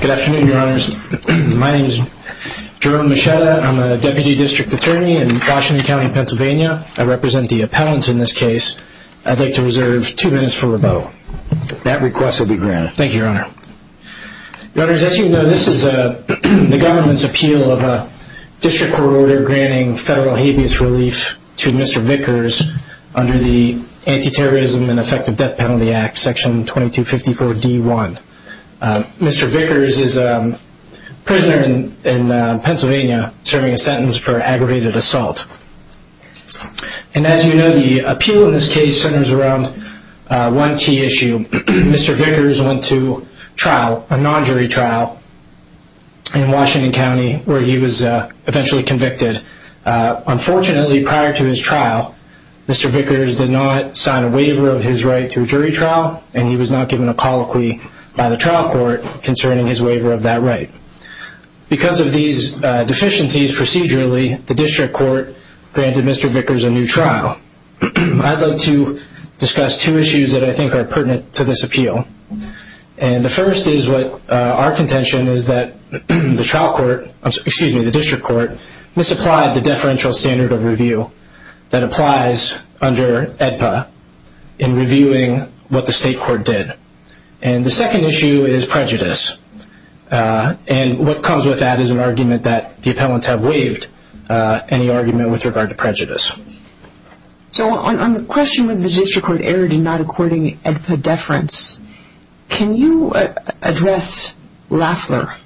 Good afternoon, your honors. My name is Jerome Moschetta. I'm a Deputy District Attorney in Washington County, Pennsylvania. I represent the appellants in this case. I'd like to be granted. Thank you, your honor. Your honors, as you know, this is the government's appeal of a district court order granting federal habeas relief to Mr. Vickers under the Anti-Terrorism and Effective Death Penalty Act, section 2254 D1. Mr. Vickers is a prisoner in Pennsylvania serving a sentence for aggravated assault. And as you know, the appeal in this case centers around one key issue. Mr. Vickers went to trial, a non-jury trial, in Washington County where he was eventually convicted. Unfortunately, prior to his trial, Mr. Vickers did not sign a waiver of his right to a jury trial and he was not given a colloquy by the trial court concerning his waiver of that right. Because of these deficiencies procedurally, the district court granted Mr. Vickers a new trial. I'd like to discuss two issues that I think are pertinent to this appeal. And the first is what our contention is that the district court misapplied the deferential standard of review that applies under AEDPA in reviewing what the state court did. And the second issue is prejudice. And what comes with that is an argument that the appellants have waived any argument with regard to prejudice. So on the question whether the district court erred in not according AEDPA deference, can you address Lafler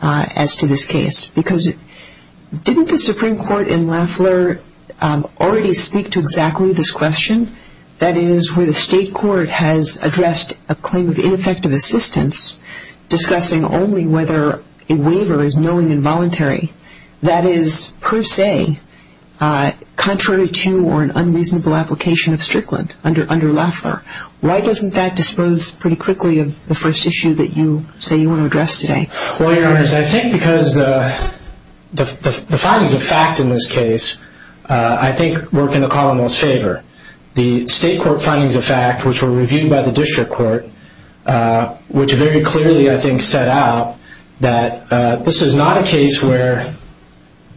as to this case? Because didn't the Supreme Court in Lafler already speak to exactly this question? That is, where the state court has addressed a claim of ineffective assistance discussing only whether a waiver is knowing involuntary. That is, per se, contrary to or an unreasonable application of Strickland under Lafler. Why doesn't that dispose pretty quickly of the first issue that you say you want to address today? Well, Your Honor, I think because the findings of fact in this case, I think, work in the district court, which very clearly, I think, set out that this is not a case where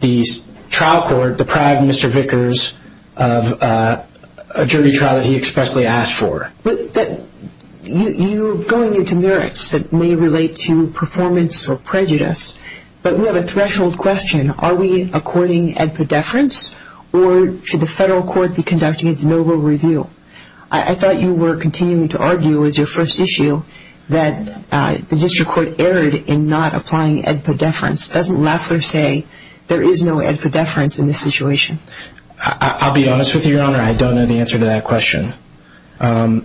the trial court deprived Mr. Vickers of a jury trial that he expressly asked for. But you're going into merits that may relate to performance or prejudice. But we have a threshold question. Are we according AEDPA deference? Or should the federal court be argue as your first issue that the district court erred in not applying AEDPA deference? Doesn't Lafler say there is no AEDPA deference in this situation? I'll be honest with you, Your Honor, I don't know the answer to that question. The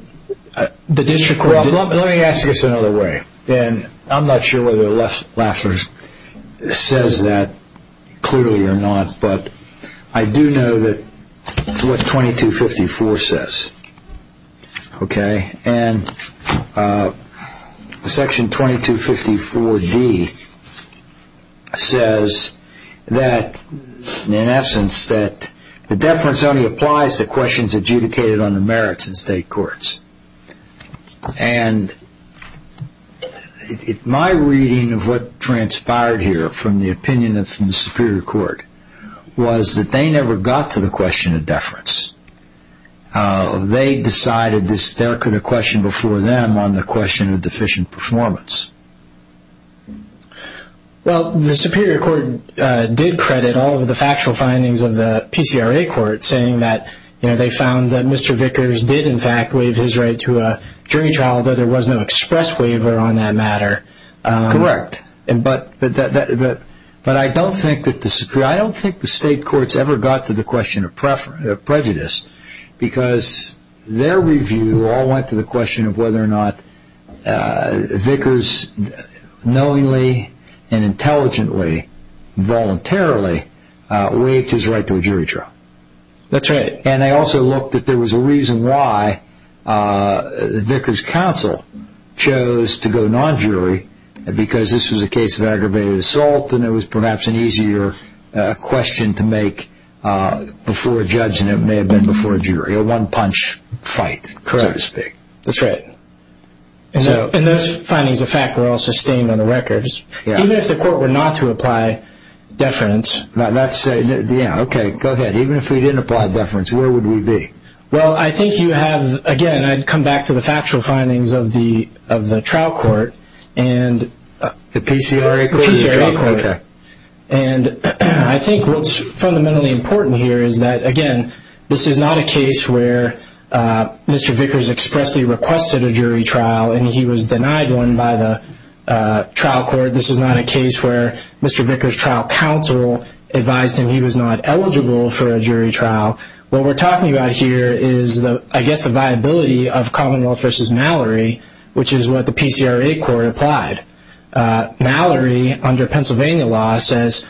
district court... Well, let me ask this another way. And I'm not sure whether Lafler says that clearly or not, but I do know what 2254 says. Okay? And section 2254D says that, in essence, that the deference only applies to questions adjudicated on the merits in state courts. And my reading of what transpired here, from the opinion of the Superior Court, was that they never got to the question of deference. They decided there could be a question before them on the question of deficient performance. Well, the Superior Court did credit all of the factual findings of the PCRA court, saying that they found that Mr. Vickers did, in fact, waive his right to a jury trial, though there was no express waiver on that matter. Correct. But I don't think the state courts ever got to the question of prejudice, because their review all went to the question of whether or not Vickers knowingly and intelligently, voluntarily, waived his right to a jury trial. That's right. And they also looked that there was a reason why Vickers' counsel chose to go non-jury, because this was a case of aggravated assault, and it was perhaps an easier question to make before a judge than it may have been before a jury. A one-punch fight, so to speak. Correct. That's right. And those findings of fact were all sustained on the records. Even if the court were not to apply deference... Okay, go ahead. Even if we didn't apply deference, where would we be? Well, I think you have... Again, I'd come back to the factual findings of the trial court and... The PCRA court? The PCRA court. And I think what's fundamentally important here is that, again, this is not a case where Mr. Vickers expressly requested a jury trial and he was denied one by the trial counsel, advised him he was not eligible for a jury trial. What we're talking about here is, I guess, the viability of Commonwealth v. Mallory, which is what the PCRA court applied. Mallory, under Pennsylvania law, says,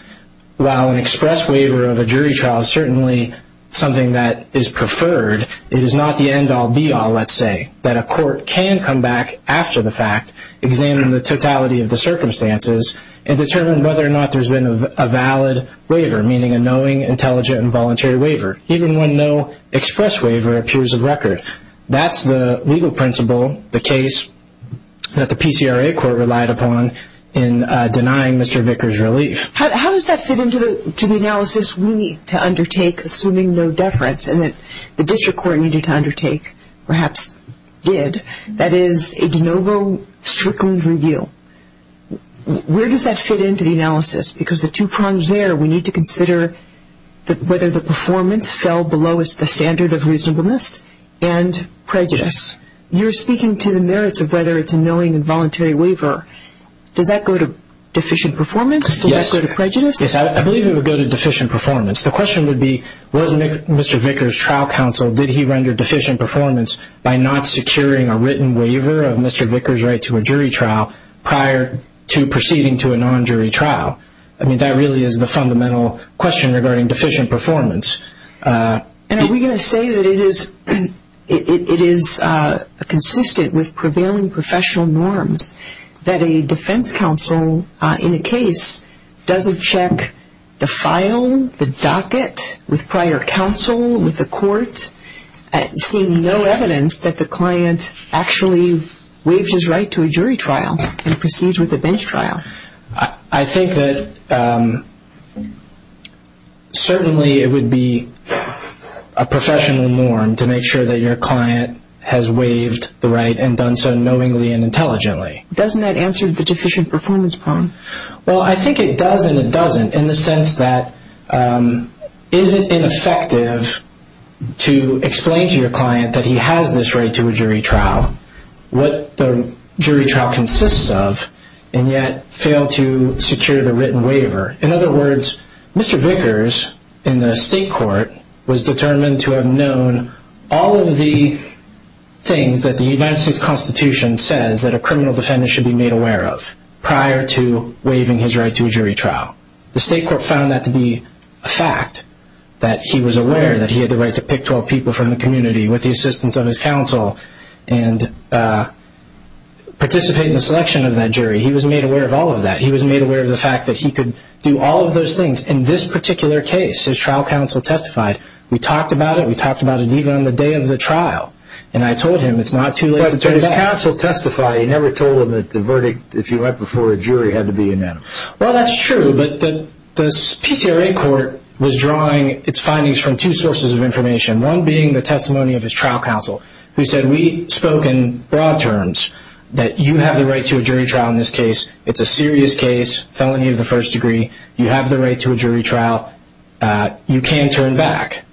while an express waiver of a jury trial is certainly something that is preferred, it is not the end-all, be-all, let's say, that a court can come back after the fact, examine the totality of the circumstances, and determine whether or not there's been a valid waiver, meaning a knowing, intelligent, and voluntary waiver, even when no express waiver appears of record. That's the legal principle, the case that the PCRA court relied upon in denying Mr. Vickers relief. How does that fit into the analysis we need to undertake, assuming no deference, and that the district court needed to undertake, perhaps did, that is, a de novo Strickland review? Where does that fit into the analysis? Because the two prongs there, we need to consider whether the performance fell below the standard of reasonableness and prejudice. You're speaking to the merits of whether it's a knowing, involuntary waiver. Does that go to deficient performance? Does that go to prejudice? Yes, I believe it would go to deficient performance. The question would be, was Mr. Vickers' trial counsel, did he render deficient performance by not securing a written waiver of Mr. Vickers' right to a jury trial prior to proceeding to a non-jury trial? I mean, that really is the fundamental question regarding deficient performance. And are we going to say that it is consistent with prevailing professional norms that a defense counsel in a case doesn't check the file, the docket, with prior counsel, with no evidence that the client actually waived his right to a jury trial and proceeds with a bench trial? I think that certainly it would be a professional norm to make sure that your client has waived the right and done so knowingly and intelligently. Doesn't that answer the deficient performance prong? Well, I think it does and it doesn't in the sense that is it ineffective to explain to your client that he has this right to a jury trial, what the jury trial consists of, and yet failed to secure the written waiver. In other words, Mr. Vickers in the state court was determined to have known all of the things that the United States Constitution says that a criminal defendant should be made aware of prior to waiving his right to a jury trial. The state court found that to be a fact, that he was aware that he had the right to pick 12 people from the community with the assistance of his counsel and participate in the selection of that jury. He was made aware of all of that. He was made aware of the fact that he could do all of those things. In this particular case, his trial counsel testified. We talked about it. We talked about it even on the day of the trial, and I told him it's not too late to turn it back. But his counsel testified. He never told him that the verdict, if you went before a jury, had to be unanimous. Well, that's true, but the PCRA court was drawing its findings from two sources of information, one being the testimony of his trial counsel, who said we spoke in broad terms that you have the right to a jury trial in this case. It's a serious case, felony of the first degree. You have the right to a jury trial. You can turn back.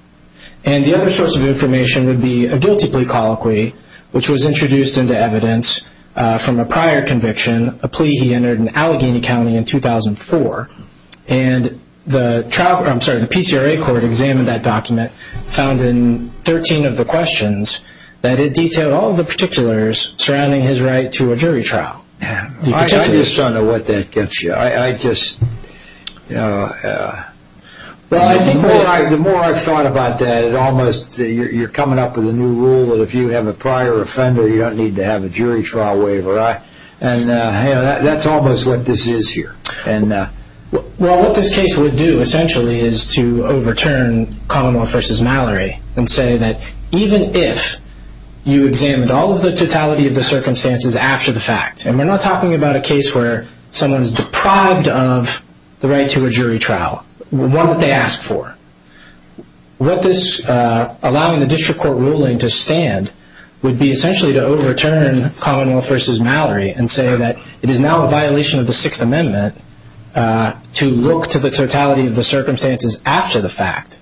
And the other source of information would be a guilty plea colloquy, which was introduced into evidence from a prior conviction, a plea he entered in Allegheny County in 2004. And the PCRA court examined that document, found in 13 of the questions that it detailed all of the particulars surrounding his right to a jury trial. I just don't know what that gets you. The more I've thought about that, you're coming up with a new rule that if you have a prior offender, you don't need to have a jury trial waiver. And that's almost what this is here. Well, what this case would do, essentially, is to overturn Commonwealth v. Mallory and say that even if you examined all of the totality of the circumstances after the fact, and we're not talking about a case where someone's deprived of the right to a jury trial, one that they would be essentially to overturn Commonwealth v. Mallory and say that it is now a violation of the Sixth Amendment to look to the totality of the circumstances after the fact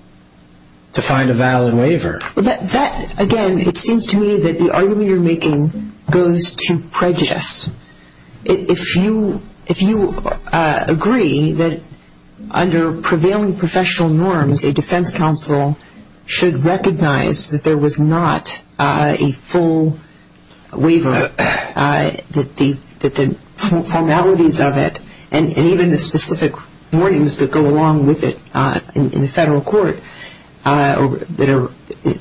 to find a valid waiver. That, again, it seems to me that the argument you're making goes to prejudice. If you agree that under prevailing professional norms, a defense counsel should recognize that there was not a full waiver, that the formalities of it and even the specific warnings that go along with it in the federal court that are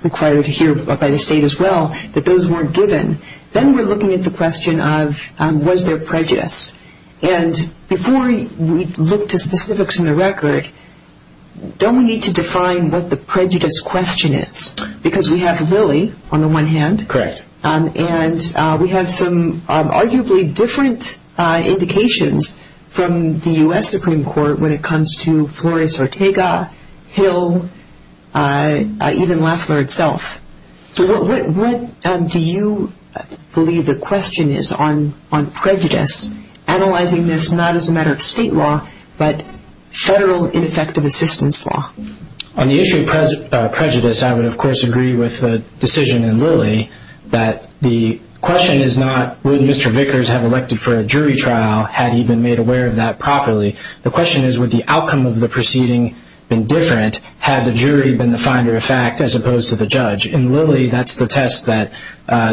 required here by the state as well, that those weren't given, then we're looking at the question of was there prejudice. And before we look to specifics in the record, don't we need to define what the prejudice question is? Because we have Lilly on the one hand. Correct. And we have some arguably different indications from the U.S. Supreme Court when it comes to Flores-Ortega, Hill, even Lafler itself. So what do you believe the question is on prejudice, analyzing this not as a matter of state law, but federal ineffective assistance law? On the issue of prejudice, I would, of course, agree with the decision in Lilly that the question is not would Mr. Vickers have elected for a jury trial had he been made aware of that properly. The question is would the outcome of the proceeding have been different had the jury been the finder of fact as opposed to the judge. In Lilly, that's the test that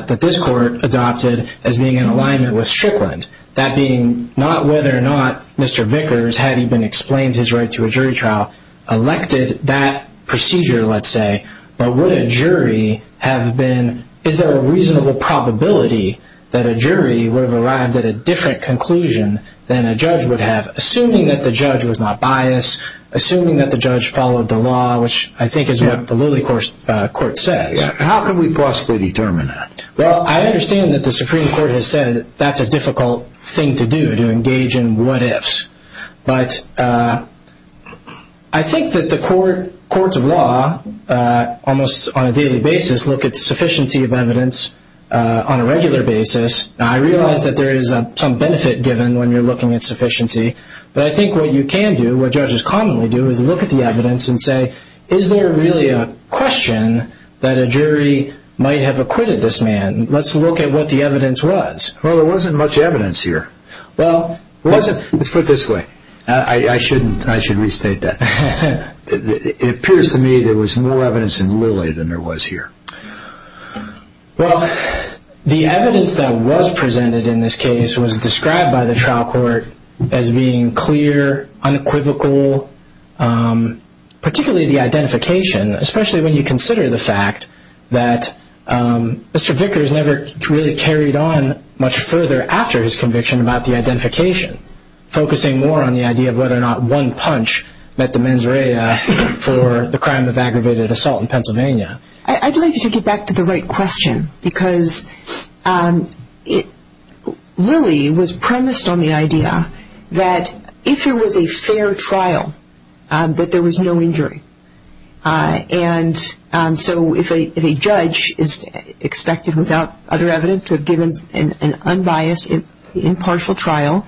this court adopted as being in alignment with Strickland, that being not whether or not Mr. Vickers had even explained his right to a jury trial elected that procedure, let's say. But would a jury have been, is there a reasonable probability that a jury would have arrived at a different conclusion than a judge would have, assuming that the judge was not biased, assuming that the judge followed the law, which I think is what the Lilly court says. How could we possibly determine that? Well, I understand that the Supreme Court has said that that's a difficult thing to do, to engage in what-ifs. But I think that the courts of law almost on a daily basis look at sufficiency of evidence on a regular basis. I realize that there is some benefit given when you're looking at sufficiency. But I think what you can do, what judges commonly do, is look at the evidence and say, is there really a question that a jury might have acquitted this man? Let's look at what the evidence was. Well, there wasn't much evidence here. Let's put it this way. I should restate that. It appears to me there was more evidence in Lilly than there was here. Well, the evidence that was presented in this case was described by the trial court as being clear, unequivocal, particularly the identification, especially when you consider the fact that Mr. Vickers never really carried on much further after his conviction about the identification, focusing more on the idea of whether or not one punch met the mens rea for the crime of aggravated assault in Pennsylvania. I'd like to get back to the right question, because Lilly was premised on the idea that if there was a fair trial, that there was no injury. And so if a judge is expected without other evidence to have given an unbiased, impartial trial,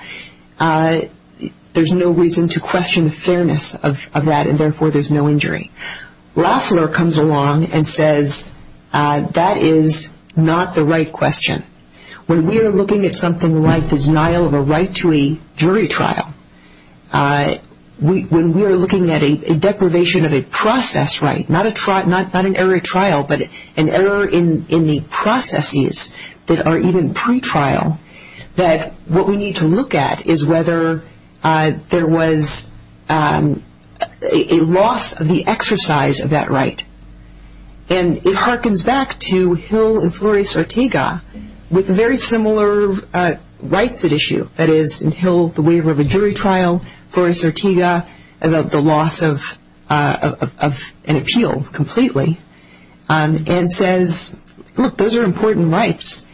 there's no reason to question the fairness of that, and therefore there's no injury. Loeffler comes along and says, that is not the right question. When we are looking at something like the denial of a right to a jury trial, when we are looking at a deprivation of a process right, not an error at trial, but an error in the processes that are even pretrial, that what we need to look at is whether there was a loss of the exercise of that right. And it harkens back to Hill and Flores-Ortega with very similar rights at issue. That is, in Hill, the waiver of a jury trial, Flores-Ortega, the loss of an appeal completely, and says, look, those are important rights,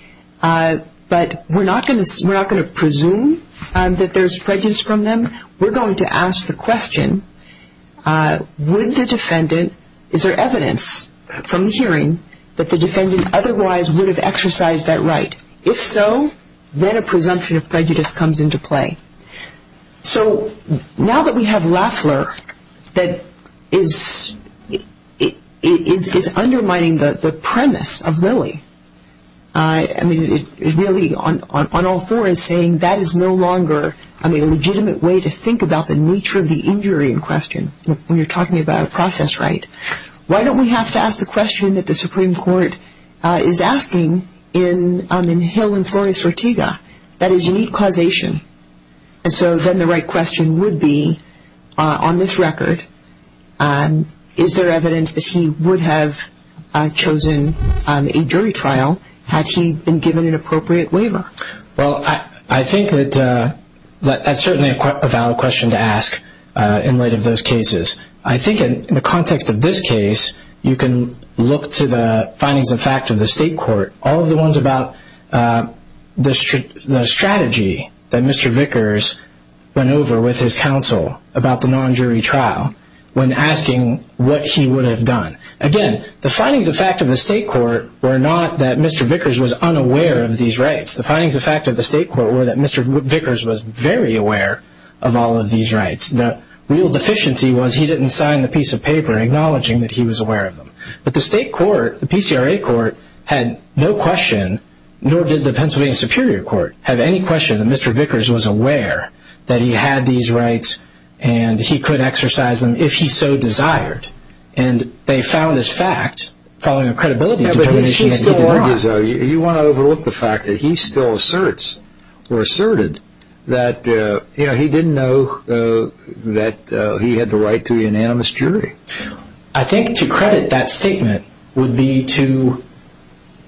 but we're not going to presume that there's prejudice from them. We're going to ask the question, would the defendant, is there evidence from the hearing, that the defendant otherwise would have exercised that right? If so, then a presumption of prejudice comes into play. So now that we have Loeffler that is undermining the premise of Lilly, I mean, really on all four is saying that is no longer a legitimate way to think about the nature of the injury in question, when you're talking about a process right. Why don't we have to ask the question that the Supreme Court is asking in Hill and Flores-Ortega? That is, you need causation. And so then the right question would be, on this record, is there evidence that he would have chosen a jury trial had he been given an appropriate waiver? Well, I think that that's certainly a valid question to ask in light of those cases. I think in the context of this case, you can look to the findings of fact of the state court, all of the ones about the strategy that Mr. Vickers went over with his counsel about the non-jury trial, when asking what he would have done. Again, the findings of fact of the state court were not that Mr. Vickers was unaware of these rights. The findings of fact of the state court were that Mr. Vickers was very aware of all of these rights. The real deficiency was he didn't sign the piece of paper acknowledging that he was aware of them. But the state court, the PCRA court, had no question, nor did the Pennsylvania Superior Court, have any question that Mr. Vickers was aware that he had these rights and he could exercise them if he so desired. And they found this fact, following a credibility determination, that he did not. You want to overlook the fact that he still asserts, or asserted, that he didn't know that he had the right to an unanimous jury. I think to credit that statement would be to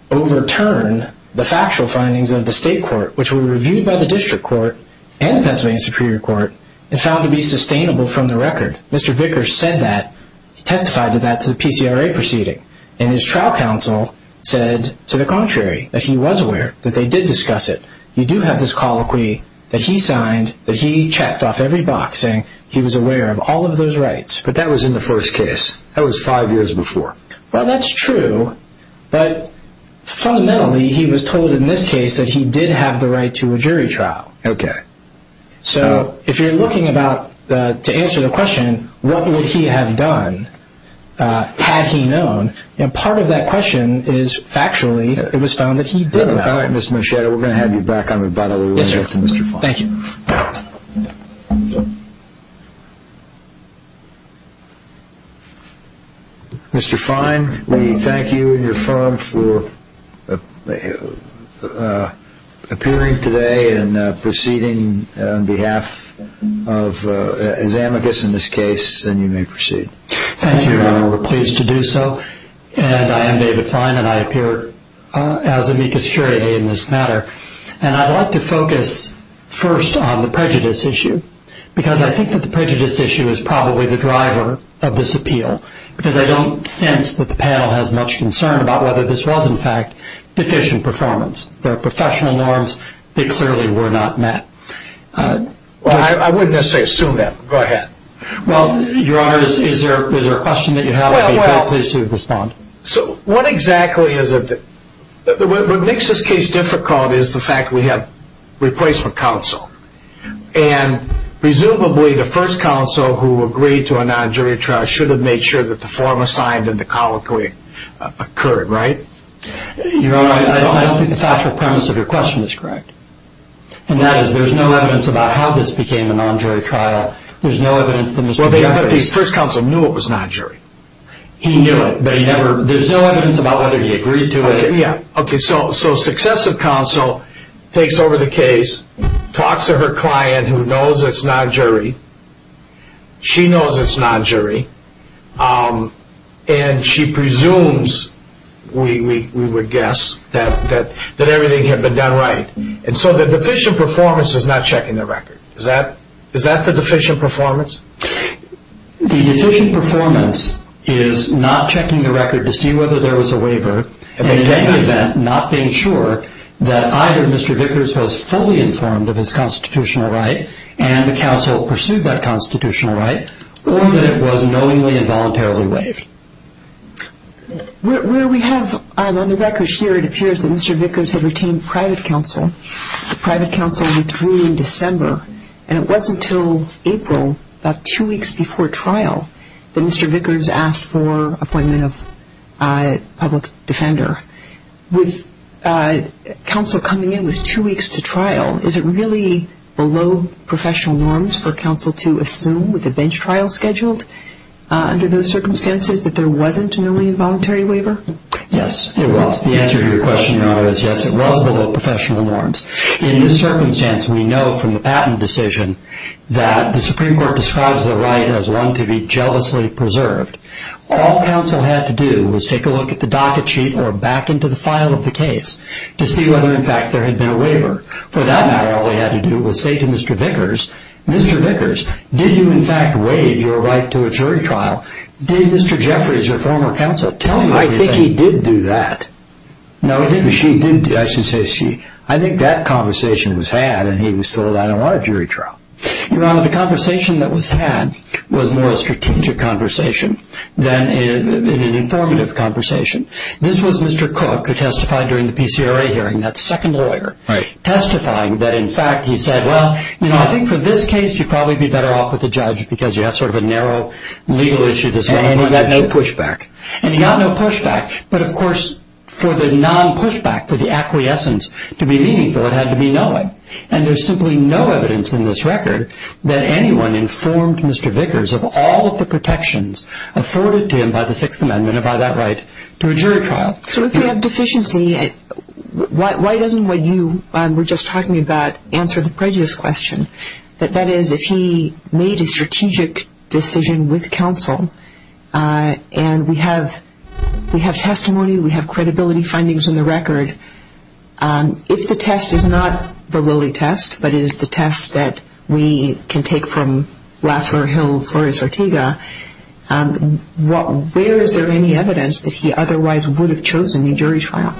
overturn the factual findings of the state court, which were reviewed by the district court and the Pennsylvania Superior Court, and found to be sustainable from the record. Mr. Vickers said that, testified to that, to the PCRA proceeding. And his trial counsel said, to the contrary, that he was aware, that they did discuss it. You do have this colloquy that he signed, that he checked off every box, saying he was aware of all of those rights. But that was in the first case. That was five years before. Well, that's true, but fundamentally he was told in this case that he did have the right to a jury trial. Okay. So, if you're looking to answer the question, what would he have done, had he known, part of that question is, factually, it was found that he did know. All right, Mr. Muschietto, we're going to have you back on the bottom of the list. Yes, sir. Mr. Fine. Thank you. Mr. Muschietto, you may proceed on behalf of his amicus in this case, and you may proceed. Thank you, Your Honor. We're pleased to do so. And I am David Fine, and I appear as amicus curiae in this matter. And I'd like to focus first on the prejudice issue, because I think that the prejudice issue is probably the driver of this appeal, because I don't sense that the panel has much concern about whether this was, in fact, deficient performance. There are professional norms. They clearly were not met. Well, I wouldn't necessarily assume that. Go ahead. Well, Your Honor, is there a question that you have? I'd be pleased to respond. So, what exactly is it that makes this case difficult is the fact that we have replacement counsel. And presumably, the first counsel who agreed to a non-jury trial should have made sure that the form assigned and the colloquy occurred, right? Your Honor, I don't think the factual premise of your question is correct. And that is, there's no evidence about how this became a non-jury trial. There's no evidence that Mr. Jefferson Well, the first counsel knew it was non-jury. He knew it, but he never There's no evidence about whether he agreed to it. Okay, so successive counsel takes over the case, talks to her client who knows it's non-jury. She knows it's non-jury. And she presumes, we would guess, that everything had been done right. And so the deficient performance is not checking the record. Is that the deficient performance? The deficient performance is not checking the record to see whether there was a waiver and, in any event, not being sure that either Mr. Vickers was fully informed of his constitutional right and the counsel pursued that constitutional right, or that it was knowingly and voluntarily waived. Where we have, on the record here, it appears that Mr. Vickers had retained private counsel. The private counsel withdrew in December. And it wasn't until April, about two weeks before trial, that Mr. Vickers asked for appointment of public defender. With counsel coming in with two weeks to trial, is it really below professional norms for counsel to assume with a bench trial scheduled under those circumstances that there wasn't a knowingly and voluntarily waiver? Yes, it was. The answer to your question, Your Honor, is yes, it was below professional norms. In this circumstance, we know from the Patent Decision that the Supreme Court describes the right as one to be jealously preserved. All counsel had to do was take a look at the docket sheet or back into the file of the case to see whether, in fact, there had been a waiver. For that matter, all they had to do was say to Mr. Vickers, Mr. Vickers, did you, in fact, waive your right to a jury trial? Did Mr. Jeffries, your former counsel, tell you that? I think he did do that. No, he didn't. I think that conversation was had and he was told, I don't want a jury trial. Your Honor, the conversation that was had was more a strategic conversation. It was an informative conversation. This was Mr. Cook who testified during the PCRA hearing, that second lawyer, testifying that, in fact, he said, well, you know, I think for this case, you'd probably be better off with a judge because you have sort of a narrow legal issue. And he got no pushback. And he got no pushback. But, of course, for the non-pushback, for the acquiescence to be meaningful, it had to be knowing. And there's simply no evidence in this record that anyone informed Mr. Vickers of all of the protections afforded to him by the Sixth Amendment and by that right to a jury trial. So if you have deficiency, why doesn't what you were just talking about answer the prejudice question? That is, if he made a strategic decision with counsel and we have testimony, we have credibility findings in the record, if the test is not the Lilly test, but it is the test that we can take from Lafler, Hill, Flores, Ortega, where is there any evidence that he otherwise would have chosen a jury trial?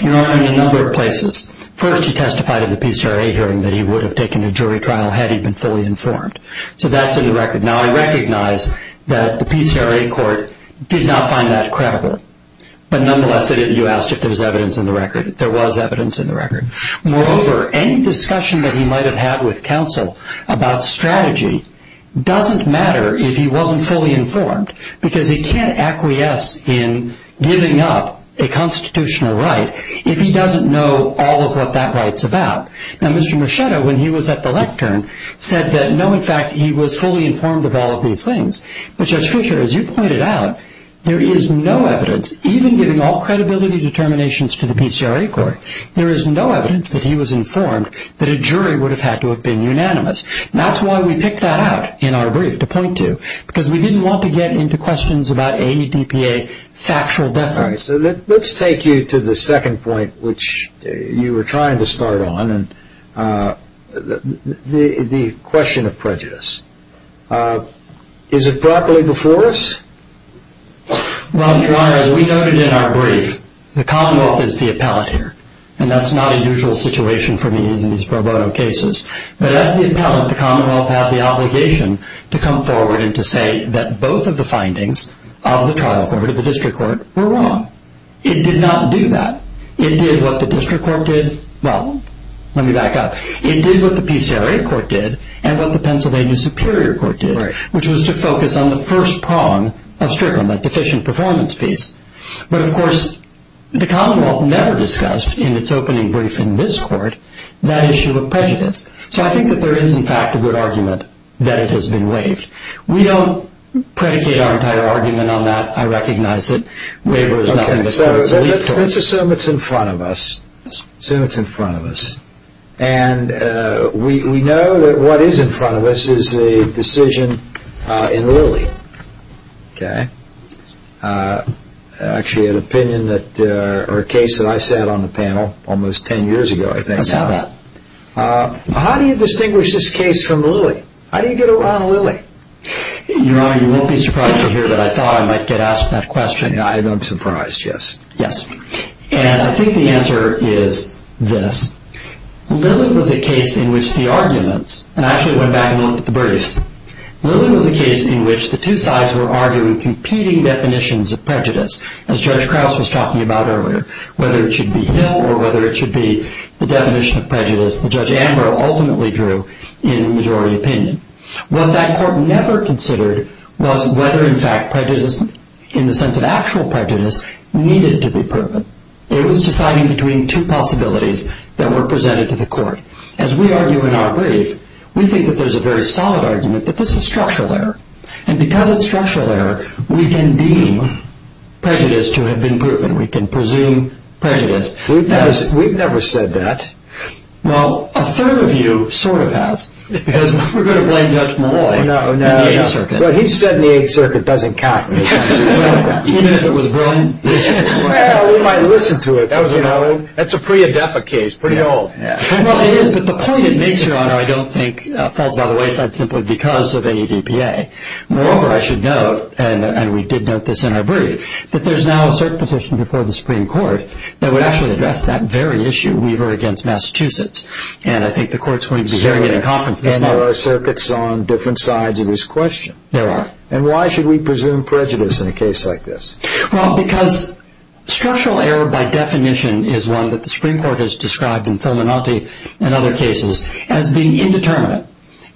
There are in a number of places. First, he testified at the PCRA hearing that he would have taken a jury trial had he been fully informed. So that's in the record. Now, I recognize that the PCRA court did not find that credible. But, nonetheless, you asked if there was evidence in the record. There was evidence in the record. Moreover, any discussion that he might have had with counsel about strategy doesn't matter if he wasn't fully informed because he can't acquiesce in giving up a constitutional right if he doesn't know all of what that right's about. Now, Mr. Muschietto, when he was at the lectern, said that, no, in fact, he was fully informed of all of these things. But, Judge Fischer, as you pointed out, there is no evidence, even giving all credibility determinations to the PCRA court, there is no evidence that he was informed that a jury would have had to have been unanimous. That's why we picked that out in our brief, to point to, because we didn't want to get into questions about AEDPA factual deference. All right. So let's take you to the second point, which you were trying to start on, the question of prejudice. Is it properly before us? Well, Your Honor, as we noted in our brief, the Commonwealth is the appellate here, and that's not a usual situation for me in these pro bono cases. But as the appellate, the Commonwealth had the obligation to come forward and to say that both of the findings of the trial court, of the district court, were wrong. It did not do that. It did what the district court did. Well, let me back up. It did what the PCRA court did and what the Pennsylvania Superior Court did, which was to focus on the first prong of Strickland, that deficient performance piece. But, of course, the Commonwealth never discussed in its opening brief in this court that issue of prejudice. So I think that there is, in fact, a good argument that it has been waived. We don't predicate our entire argument on that. I recognize that waiver is nothing but court's leapfrog. Let's assume it's in front of us. Assume it's in front of us. And we know that what is in front of us is a decision in Lilly. Actually, an opinion or a case that I sat on the panel almost ten years ago, I think. I saw that. How do you distinguish this case from Lilly? How do you get around Lilly? Your Honor, you won't be surprised to hear that I thought I might get asked that question. I'm surprised, yes. And I think the answer is this. Lilly was a case in which the arguments—and I actually went back and looked at the briefs. Lilly was a case in which the two sides were arguing competing definitions of prejudice, as Judge Krause was talking about earlier, whether it should be Hill or whether it should be the definition of prejudice that Judge Ambrose ultimately drew in majority opinion. What that court never considered was whether, in fact, prejudice, in the sense of actual prejudice, needed to be proven. It was deciding between two possibilities that were presented to the court. As we argue in our brief, we think that there's a very solid argument that this is structural error. And because it's structural error, we can deem prejudice to have been proven. We can presume prejudice. We've never said that. Well, a third of you sort of has, because we're going to blame Judge Malloy in the Eighth Circuit. No, no, no. But he said in the Eighth Circuit it doesn't count. Even if it was brilliant? Well, we might listen to it. That's a pretty adepa case, pretty old. Well, it is, but the point it makes, Your Honor, I don't think falls by the wayside simply because of ADPA. Moreover, I should note, and we did note this in our brief, that there's now a cert petition before the Supreme Court that would actually address that very issue. Weaver against Massachusetts. And I think the Court's going to be hearing it in conference this month. And there are circuits on different sides of this question. There are. And why should we presume prejudice in a case like this? Well, because structural error, by definition, is one that the Supreme Court has described, in Felinanti and other cases, as being indeterminate.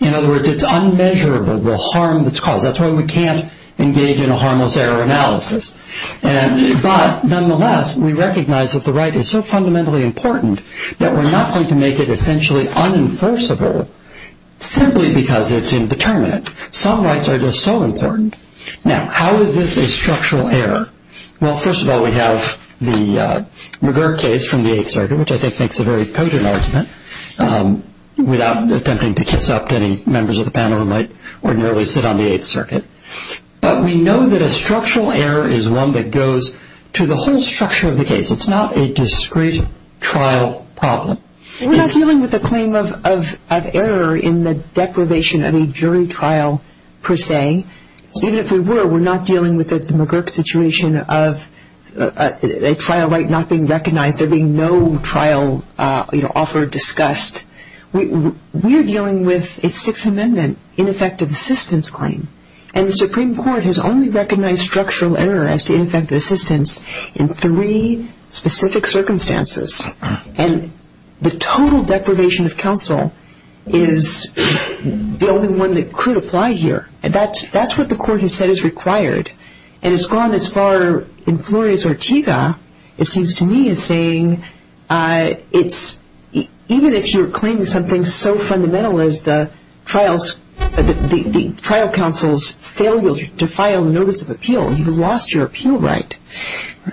In other words, it's unmeasurable, the harm that's caused. That's why we can't engage in a harmless error analysis. But nonetheless, we recognize that the right is so fundamentally important that we're not going to make it essentially unenforceable simply because it's indeterminate. Some rights are just so important. Now, how is this a structural error? Well, first of all, we have the McGurk case from the Eighth Circuit, which I think makes a very potent argument, without attempting to kiss up to any members of the panel who might ordinarily sit on the Eighth Circuit. But we know that a structural error is one that goes to the whole structure of the case. It's not a discrete trial problem. We're not dealing with a claim of error in the deprivation of a jury trial, per se. Even if we were, we're not dealing with the McGurk situation of a trial right not being recognized, there being no trial offer discussed. We're dealing with a Sixth Amendment ineffective assistance claim. And the Supreme Court has only recognized structural error as to ineffective assistance in three specific circumstances. And the total deprivation of counsel is the only one that could apply here. That's what the court has said is required. And it's gone as far in Flores-Ortega, it seems to me, as saying, even if you're claiming something so fundamental as the trial counsel's failure to file notice of appeal, you've lost your appeal right.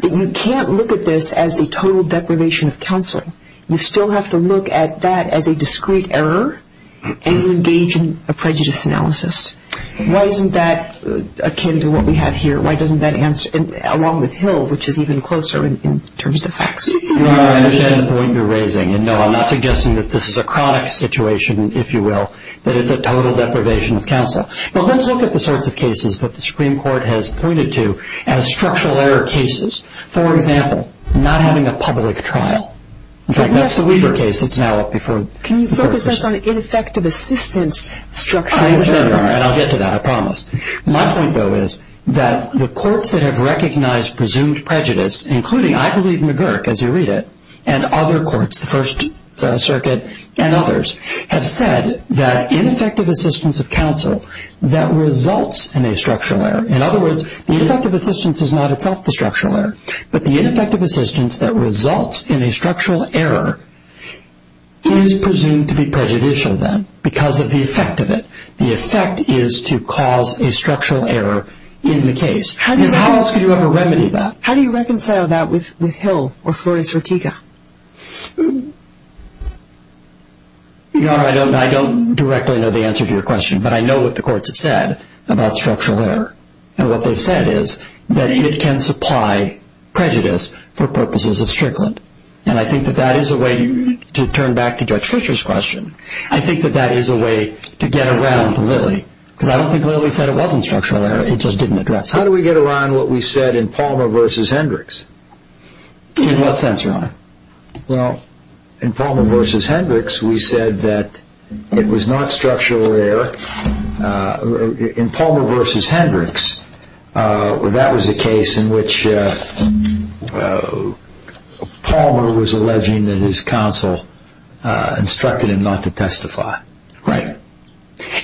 You can't look at this as the total deprivation of counseling. You still have to look at that as a discrete error and engage in a prejudice analysis. Why isn't that akin to what we have here? Why doesn't that answer, along with Hill, which is even closer in terms of facts? Well, I understand the point you're raising. And, no, I'm not suggesting that this is a chronic situation, if you will, that it's a total deprivation of counsel. But let's look at the sorts of cases that the Supreme Court has pointed to as structural error cases. For example, not having a public trial. In fact, that's the Weaver case that's now up before the courts. Can you focus us on ineffective assistance structural error? I understand, Your Honor, and I'll get to that, I promise. My point, though, is that the courts that have recognized presumed prejudice, including, I believe, McGurk, as you read it, and other courts, the First Circuit and others, have said that ineffective assistance of counsel that results in a structural error, in other words, the ineffective assistance is not itself the structural error, but the ineffective assistance that results in a structural error is presumed to be prejudicial, then, because of the effect of it. The effect is to cause a structural error in the case. How else could you ever remedy that? How do you reconcile that with Hill or Flores-Rotiga? Your Honor, I don't directly know the answer to your question, but I know what the courts have said about structural error. And what they've said is that it can supply prejudice for purposes of Strickland. And I think that that is a way, to turn back to Judge Fisher's question, I think that that is a way to get around Lilly. Because I don't think Lilly said it wasn't structural error, it just didn't address it. How do we get around what we said in Palmer v. Hendricks? In what sense, Your Honor? Well, in Palmer v. Hendricks, we said that it was not structural error. In Palmer v. Hendricks, that was a case in which Palmer was alleging that his counsel instructed him not to testify. Right.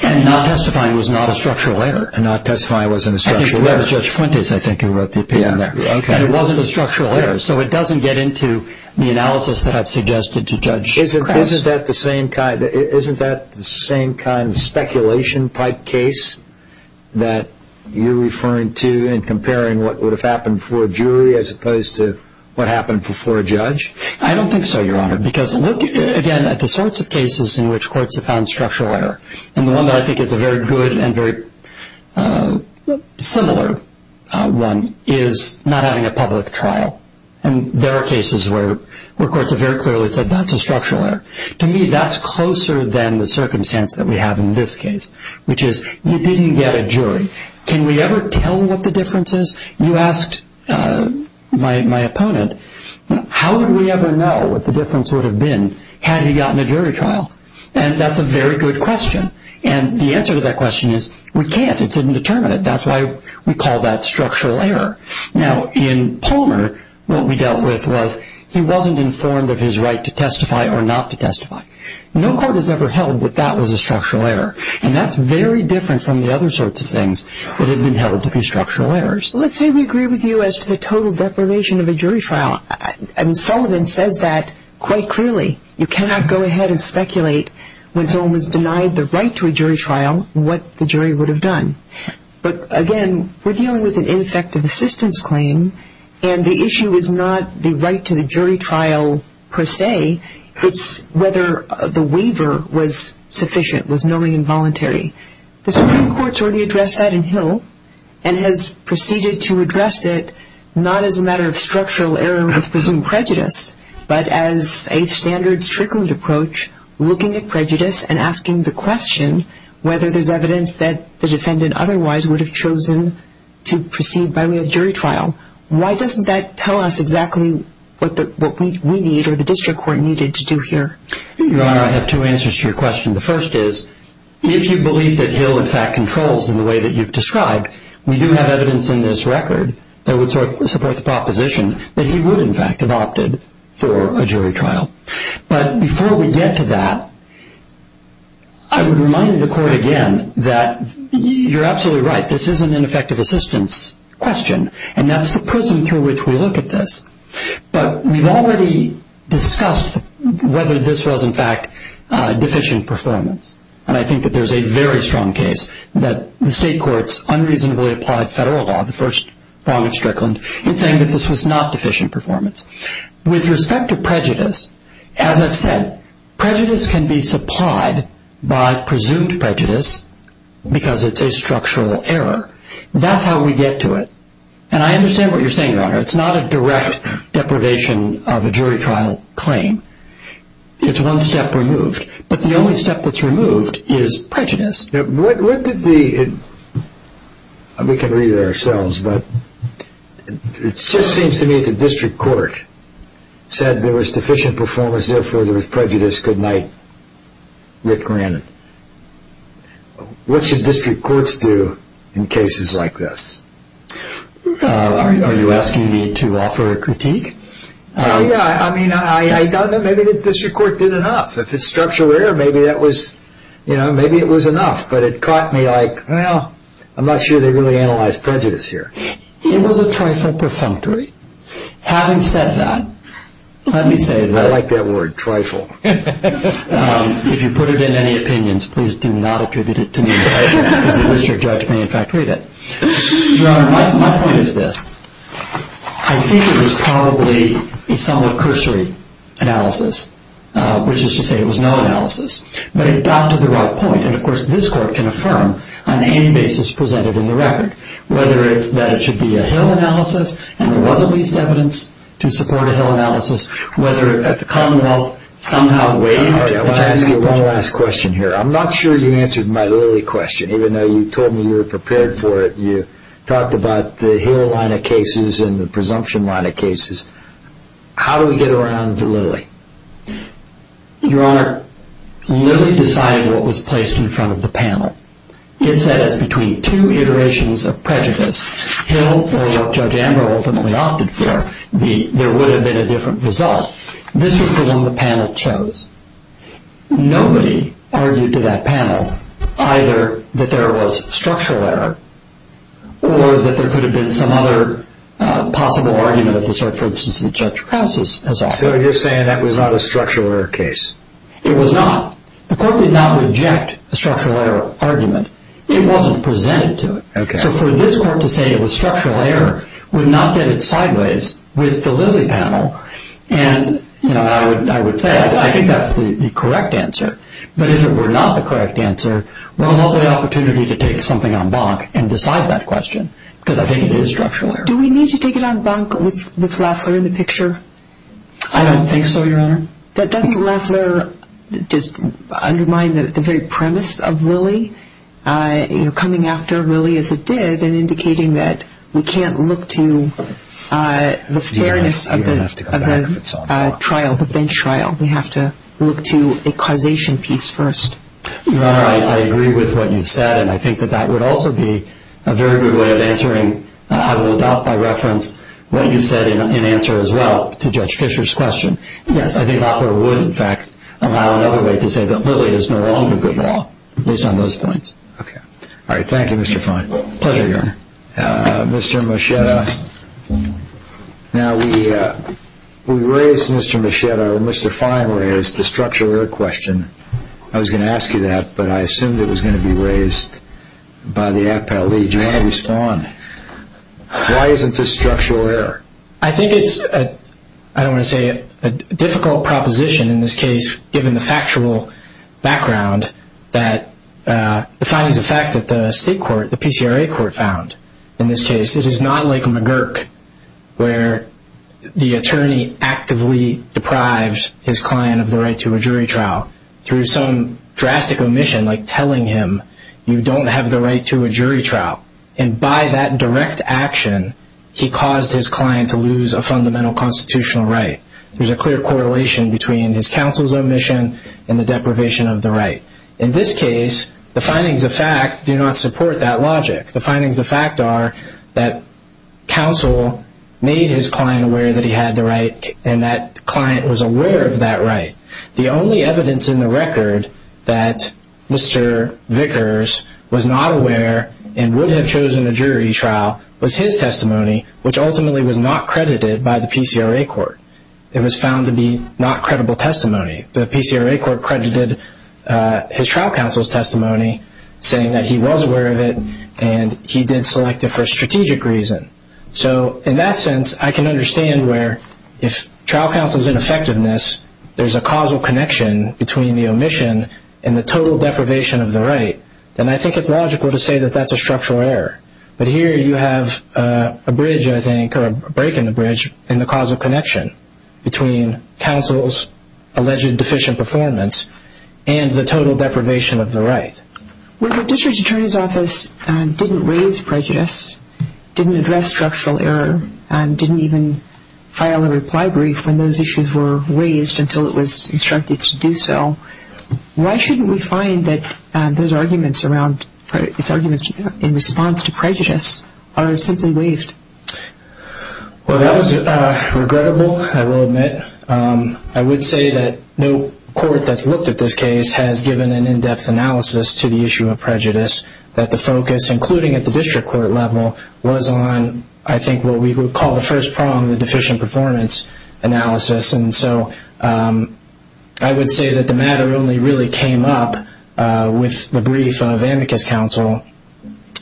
And not testifying was not a structural error. And not testifying wasn't a structural error. I think it was Judge Fuentes, I think, who wrote the opinion there. And it wasn't a structural error. So it doesn't get into the analysis that I've suggested to Judge Kress. Isn't that the same kind of speculation-type case that you're referring to in comparing what would have happened before a jury as opposed to what happened before a judge? I don't think so, Your Honor. Because look, again, at the sorts of cases in which courts have found structural error. And the one that I think is a very good and very similar one is not having a public trial. And there are cases where courts have very clearly said that's a structural error. To me, that's closer than the circumstance that we have in this case, which is you didn't get a jury. Can we ever tell what the difference is? You asked my opponent, how would we ever know what the difference would have been had he gotten a jury trial? And that's a very good question. And the answer to that question is we can't. It's indeterminate. That's why we call that structural error. Now, in Palmer, what we dealt with was he wasn't informed of his right to testify or not to testify. No court has ever held that that was a structural error. And that's very different from the other sorts of things that have been held to be structural errors. Let's say we agree with you as to the total deprivation of a jury trial. Sullivan says that quite clearly. You cannot go ahead and speculate when someone was denied the right to a jury trial what the jury would have done. But, again, we're dealing with an ineffective assistance claim, and the issue is not the right to the jury trial per se. It's whether the waiver was sufficient, was knowing and voluntary. The Supreme Court's already addressed that in Hill and has proceeded to address it not as a matter of structural error with presumed prejudice, but as a standard, stricter approach, looking at prejudice and asking the question whether there's evidence that the defendant otherwise would have chosen to proceed by way of jury trial. Why doesn't that tell us exactly what we need or the district court needed to do here? Your Honor, I have two answers to your question. The first is, if you believe that Hill, in fact, controls in the way that you've described, we do have evidence in this record that would support the proposition that he would, in fact, have opted for a jury trial. But before we get to that, I would remind the court again that you're absolutely right. This isn't an effective assistance question, and that's the prism through which we look at this. But we've already discussed whether this was, in fact, deficient performance, and I think that there's a very strong case that the state courts unreasonably applied federal law, the first prong of Strickland, in saying that this was not deficient performance. With respect to prejudice, as I've said, prejudice can be supplied by presumed prejudice because it's a structural error. That's how we get to it. And I understand what you're saying, Your Honor. It's not a direct deprivation of a jury trial claim. It's one step removed. But the only step that's removed is prejudice. What did the – we can read it ourselves, but it just seems to me the district court said there was deficient performance, therefore there was prejudice. Good night. Rick Granat. What should district courts do in cases like this? Are you asking me to offer a critique? Yeah, I mean, I doubt that maybe the district court did enough. If it's structural error, maybe that was – maybe it was enough, but it caught me like, well, I'm not sure they really analyzed prejudice here. It was a trifle perfunctory. Having said that, let me say that. I like that word, trifle. If you put it in any opinions, please do not attribute it to me because the district judge may, in fact, read it. Your Honor, my point is this. I think it was probably a somewhat cursory analysis, which is to say it was no analysis. But it got to the right point. And, of course, this court can affirm on any basis presented in the record, whether it's that it should be a Hill analysis and there was at least evidence to support a Hill analysis, whether it's that the Commonwealth somehow waived. I want to ask you one last question here. I'm not sure you answered my Lilly question, even though you told me you were prepared for it. You talked about the Hill line of cases and the presumption line of cases. How do we get around Lilly? Your Honor, Lilly decided what was placed in front of the panel. It said it's between two iterations of prejudice. Hill, or what Judge Amber ultimately opted for, there would have been a different result. This was the one the panel chose. Nobody argued to that panel either that there was structural error or that there could have been some other possible argument of the sort, for instance, that Judge Krauss has offered. So you're saying that was not a structural error case? It was not. The court did not reject a structural error argument. It wasn't presented to it. So for this court to say it was structural error would not get it sideways with the Lilly panel. And I would say I think that's the correct answer. But if it were not the correct answer, we'll have the opportunity to take something en banc and decide that question, because I think it is structural error. Do we need to take it en banc with Lafler in the picture? I don't think so, Your Honor. Coming after Lilly as it did and indicating that we can't look to the fairness of the trial, the bench trial. We have to look to a causation piece first. Your Honor, I agree with what you've said, and I think that that would also be a very good way of answering. I will adopt by reference what you said in answer as well to Judge Fisher's question. Yes, I think Lafler would, in fact, allow another way to say that Lilly is no longer good law, based on those points. Okay. All right. Thank you, Mr. Fine. Pleasure, Your Honor. Mr. Moschetta, now we raised, Mr. Moschetta, or Mr. Fine raised the structural error question. I was going to ask you that, but I assumed it was going to be raised by the Appellee. Do you want to respond? Why isn't this structural error? I think it's, I don't want to say, a difficult proposition in this case, given the factual background that the findings of fact that the state court, the PCRA court, found in this case. It is not like McGurk, where the attorney actively deprives his client of the right to a jury trial through some drastic omission, like telling him you don't have the right to a jury trial. And by that direct action, he caused his client to lose a fundamental constitutional right. There's a clear correlation between his counsel's omission and the deprivation of the right. In this case, the findings of fact do not support that logic. The findings of fact are that counsel made his client aware that he had the right and that client was aware of that right. The only evidence in the record that Mr. Vickers was not aware and would have chosen a jury trial was his testimony, which ultimately was not credited by the PCRA court. It was found to be not credible testimony. The PCRA court credited his trial counsel's testimony, saying that he was aware of it and he did select it for a strategic reason. So in that sense, I can understand where if trial counsel's ineffectiveness, there's a causal connection between the omission and the total deprivation of the right, then I think it's logical to say that that's a structural error. But here you have a bridge, I think, or a break in the bridge, in the causal connection between counsel's alleged deficient performance and the total deprivation of the right. When the district attorney's office didn't raise prejudice, didn't address structural error, and didn't even file a reply brief when those issues were raised until it was instructed to do so, why shouldn't we find that those arguments in response to prejudice are simply waived? Well, that was regrettable, I will admit. I would say that no court that's looked at this case has given an in-depth analysis to the issue of prejudice, that the focus, including at the district court level, was on, I think, what we would call the first problem, the deficient performance analysis. And so I would say that the matter only really came up with the brief of amicus counsel,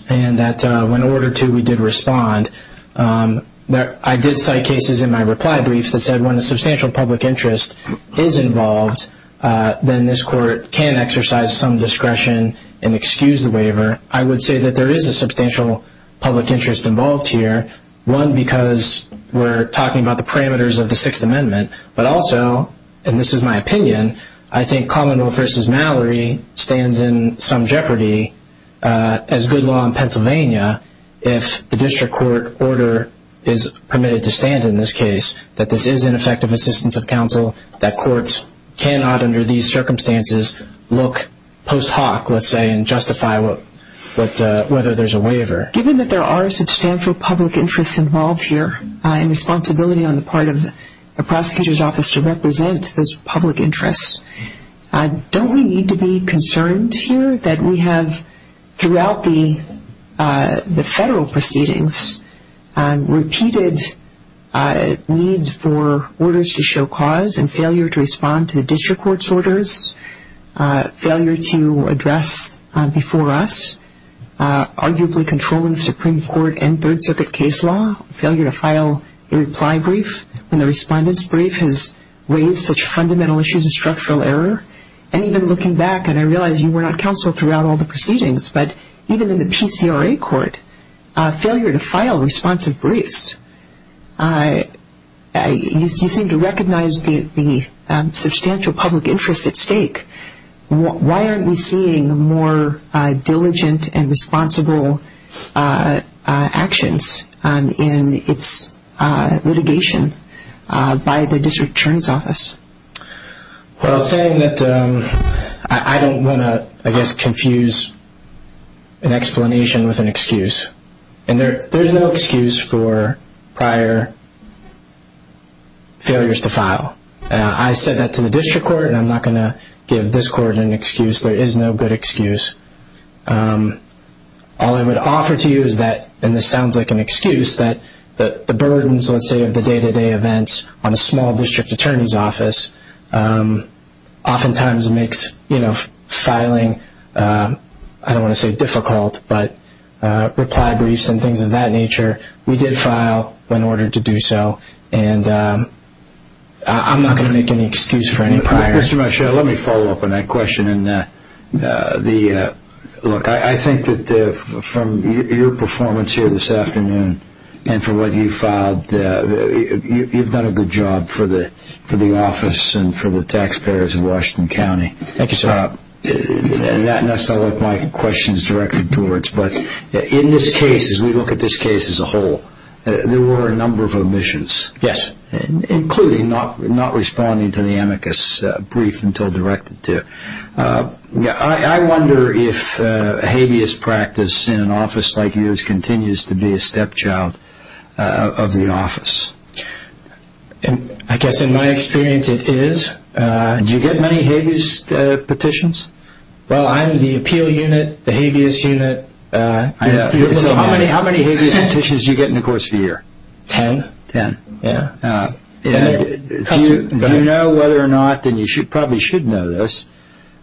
and that when ordered to, we did respond. I did cite cases in my reply brief that said when a substantial public interest is involved, then this court can exercise some discretion and excuse the waiver. I would say that there is a substantial public interest involved here, one, because we're talking about the parameters of the Sixth Amendment, but also, and this is my opinion, I think Commondole v. Mallory stands in some jeopardy as good law in Pennsylvania if the district court order is permitted to stand in this case, that this is ineffective assistance of counsel, that courts cannot, under these circumstances, look post hoc, let's say, and justify whether there's a waiver. Given that there are substantial public interests involved here and responsibility on the part of the prosecutor's office to represent those public interests, don't we need to be concerned here that we have, throughout the federal proceedings, repeated needs for orders to show cause and failure to respond to the district court's orders, failure to address before us arguably controlling the Supreme Court and Third Circuit case law, failure to file a reply brief when the respondent's brief has raised such fundamental issues of structural error, and even looking back, and I realize you were not counsel throughout all the proceedings, but even in the PCRA court, failure to file responsive briefs. You seem to recognize the substantial public interest at stake. Why aren't we seeing more diligent and responsible actions in its litigation by the district attorney's office? Well, saying that, I don't want to, I guess, confuse an explanation with an excuse. And there's no excuse for prior failures to file. I said that to the district court, and I'm not going to give this court an excuse. There is no good excuse. All I would offer to you is that, and this sounds like an excuse, that the burdens, let's say, of the day-to-day events on a small district attorney's office oftentimes makes filing, I don't want to say difficult, but reply briefs and things of that nature. We did file in order to do so. And I'm not going to make any excuse for any prior. Mr. Machado, let me follow up on that question. Look, I think that from your performance here this afternoon and from what you filed, you've done a good job for the office and for the taxpayers of Washington County. Thank you, sir. And that's not what my question is directed towards. But in this case, as we look at this case as a whole, there were a number of omissions. Yes. Including not responding to the amicus brief until directed to. I wonder if habeas practice in an office like yours continues to be a stepchild of the office. I guess in my experience it is. Do you get many habeas petitions? Well, I'm the appeal unit, the habeas unit. So how many habeas petitions do you get in the course of a year? Ten. Ten. Do you know whether or not, and you probably should know this,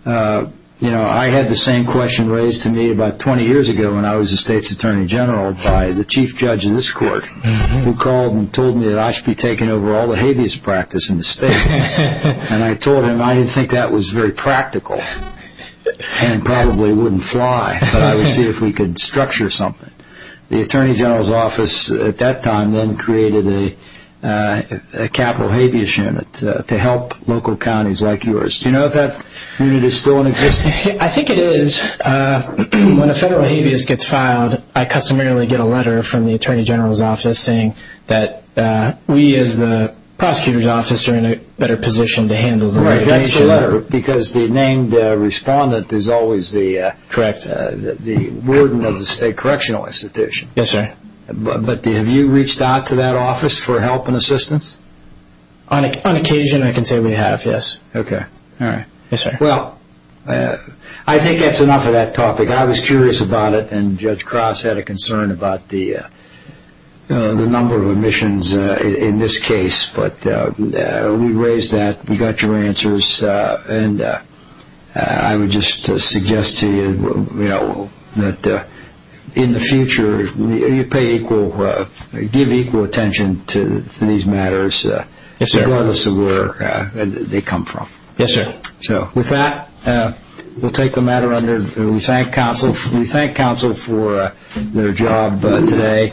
I had the same question raised to me about 20 years ago when I was the state's attorney general by the chief judge of this court who called and told me that I should be taking over all the habeas practice in the state. And I told him I didn't think that was very practical and probably wouldn't fly, but I would see if we could structure something. The attorney general's office at that time then created a capital habeas unit to help local counties like yours. Do you know if that unit is still in existence? I think it is. When a federal habeas gets filed, I customarily get a letter from the attorney general's office saying that we, as the prosecutor's office, are in a better position to handle the litigation. That's the letter. Because the named respondent is always the warden of the state correctional institution. Yes, sir. But have you reached out to that office for help and assistance? On occasion I can say we have, yes. Okay. All right. Yes, sir. Well, I think that's enough of that topic. I was curious about it, and Judge Cross had a concern about the number of omissions in this case. But we raised that. We got your answers. And I would just suggest to you that in the future you pay equal, give equal attention to these matters regardless of where they come from. Yes, sir. With that, we'll take the matter under. We thank counsel for their job today.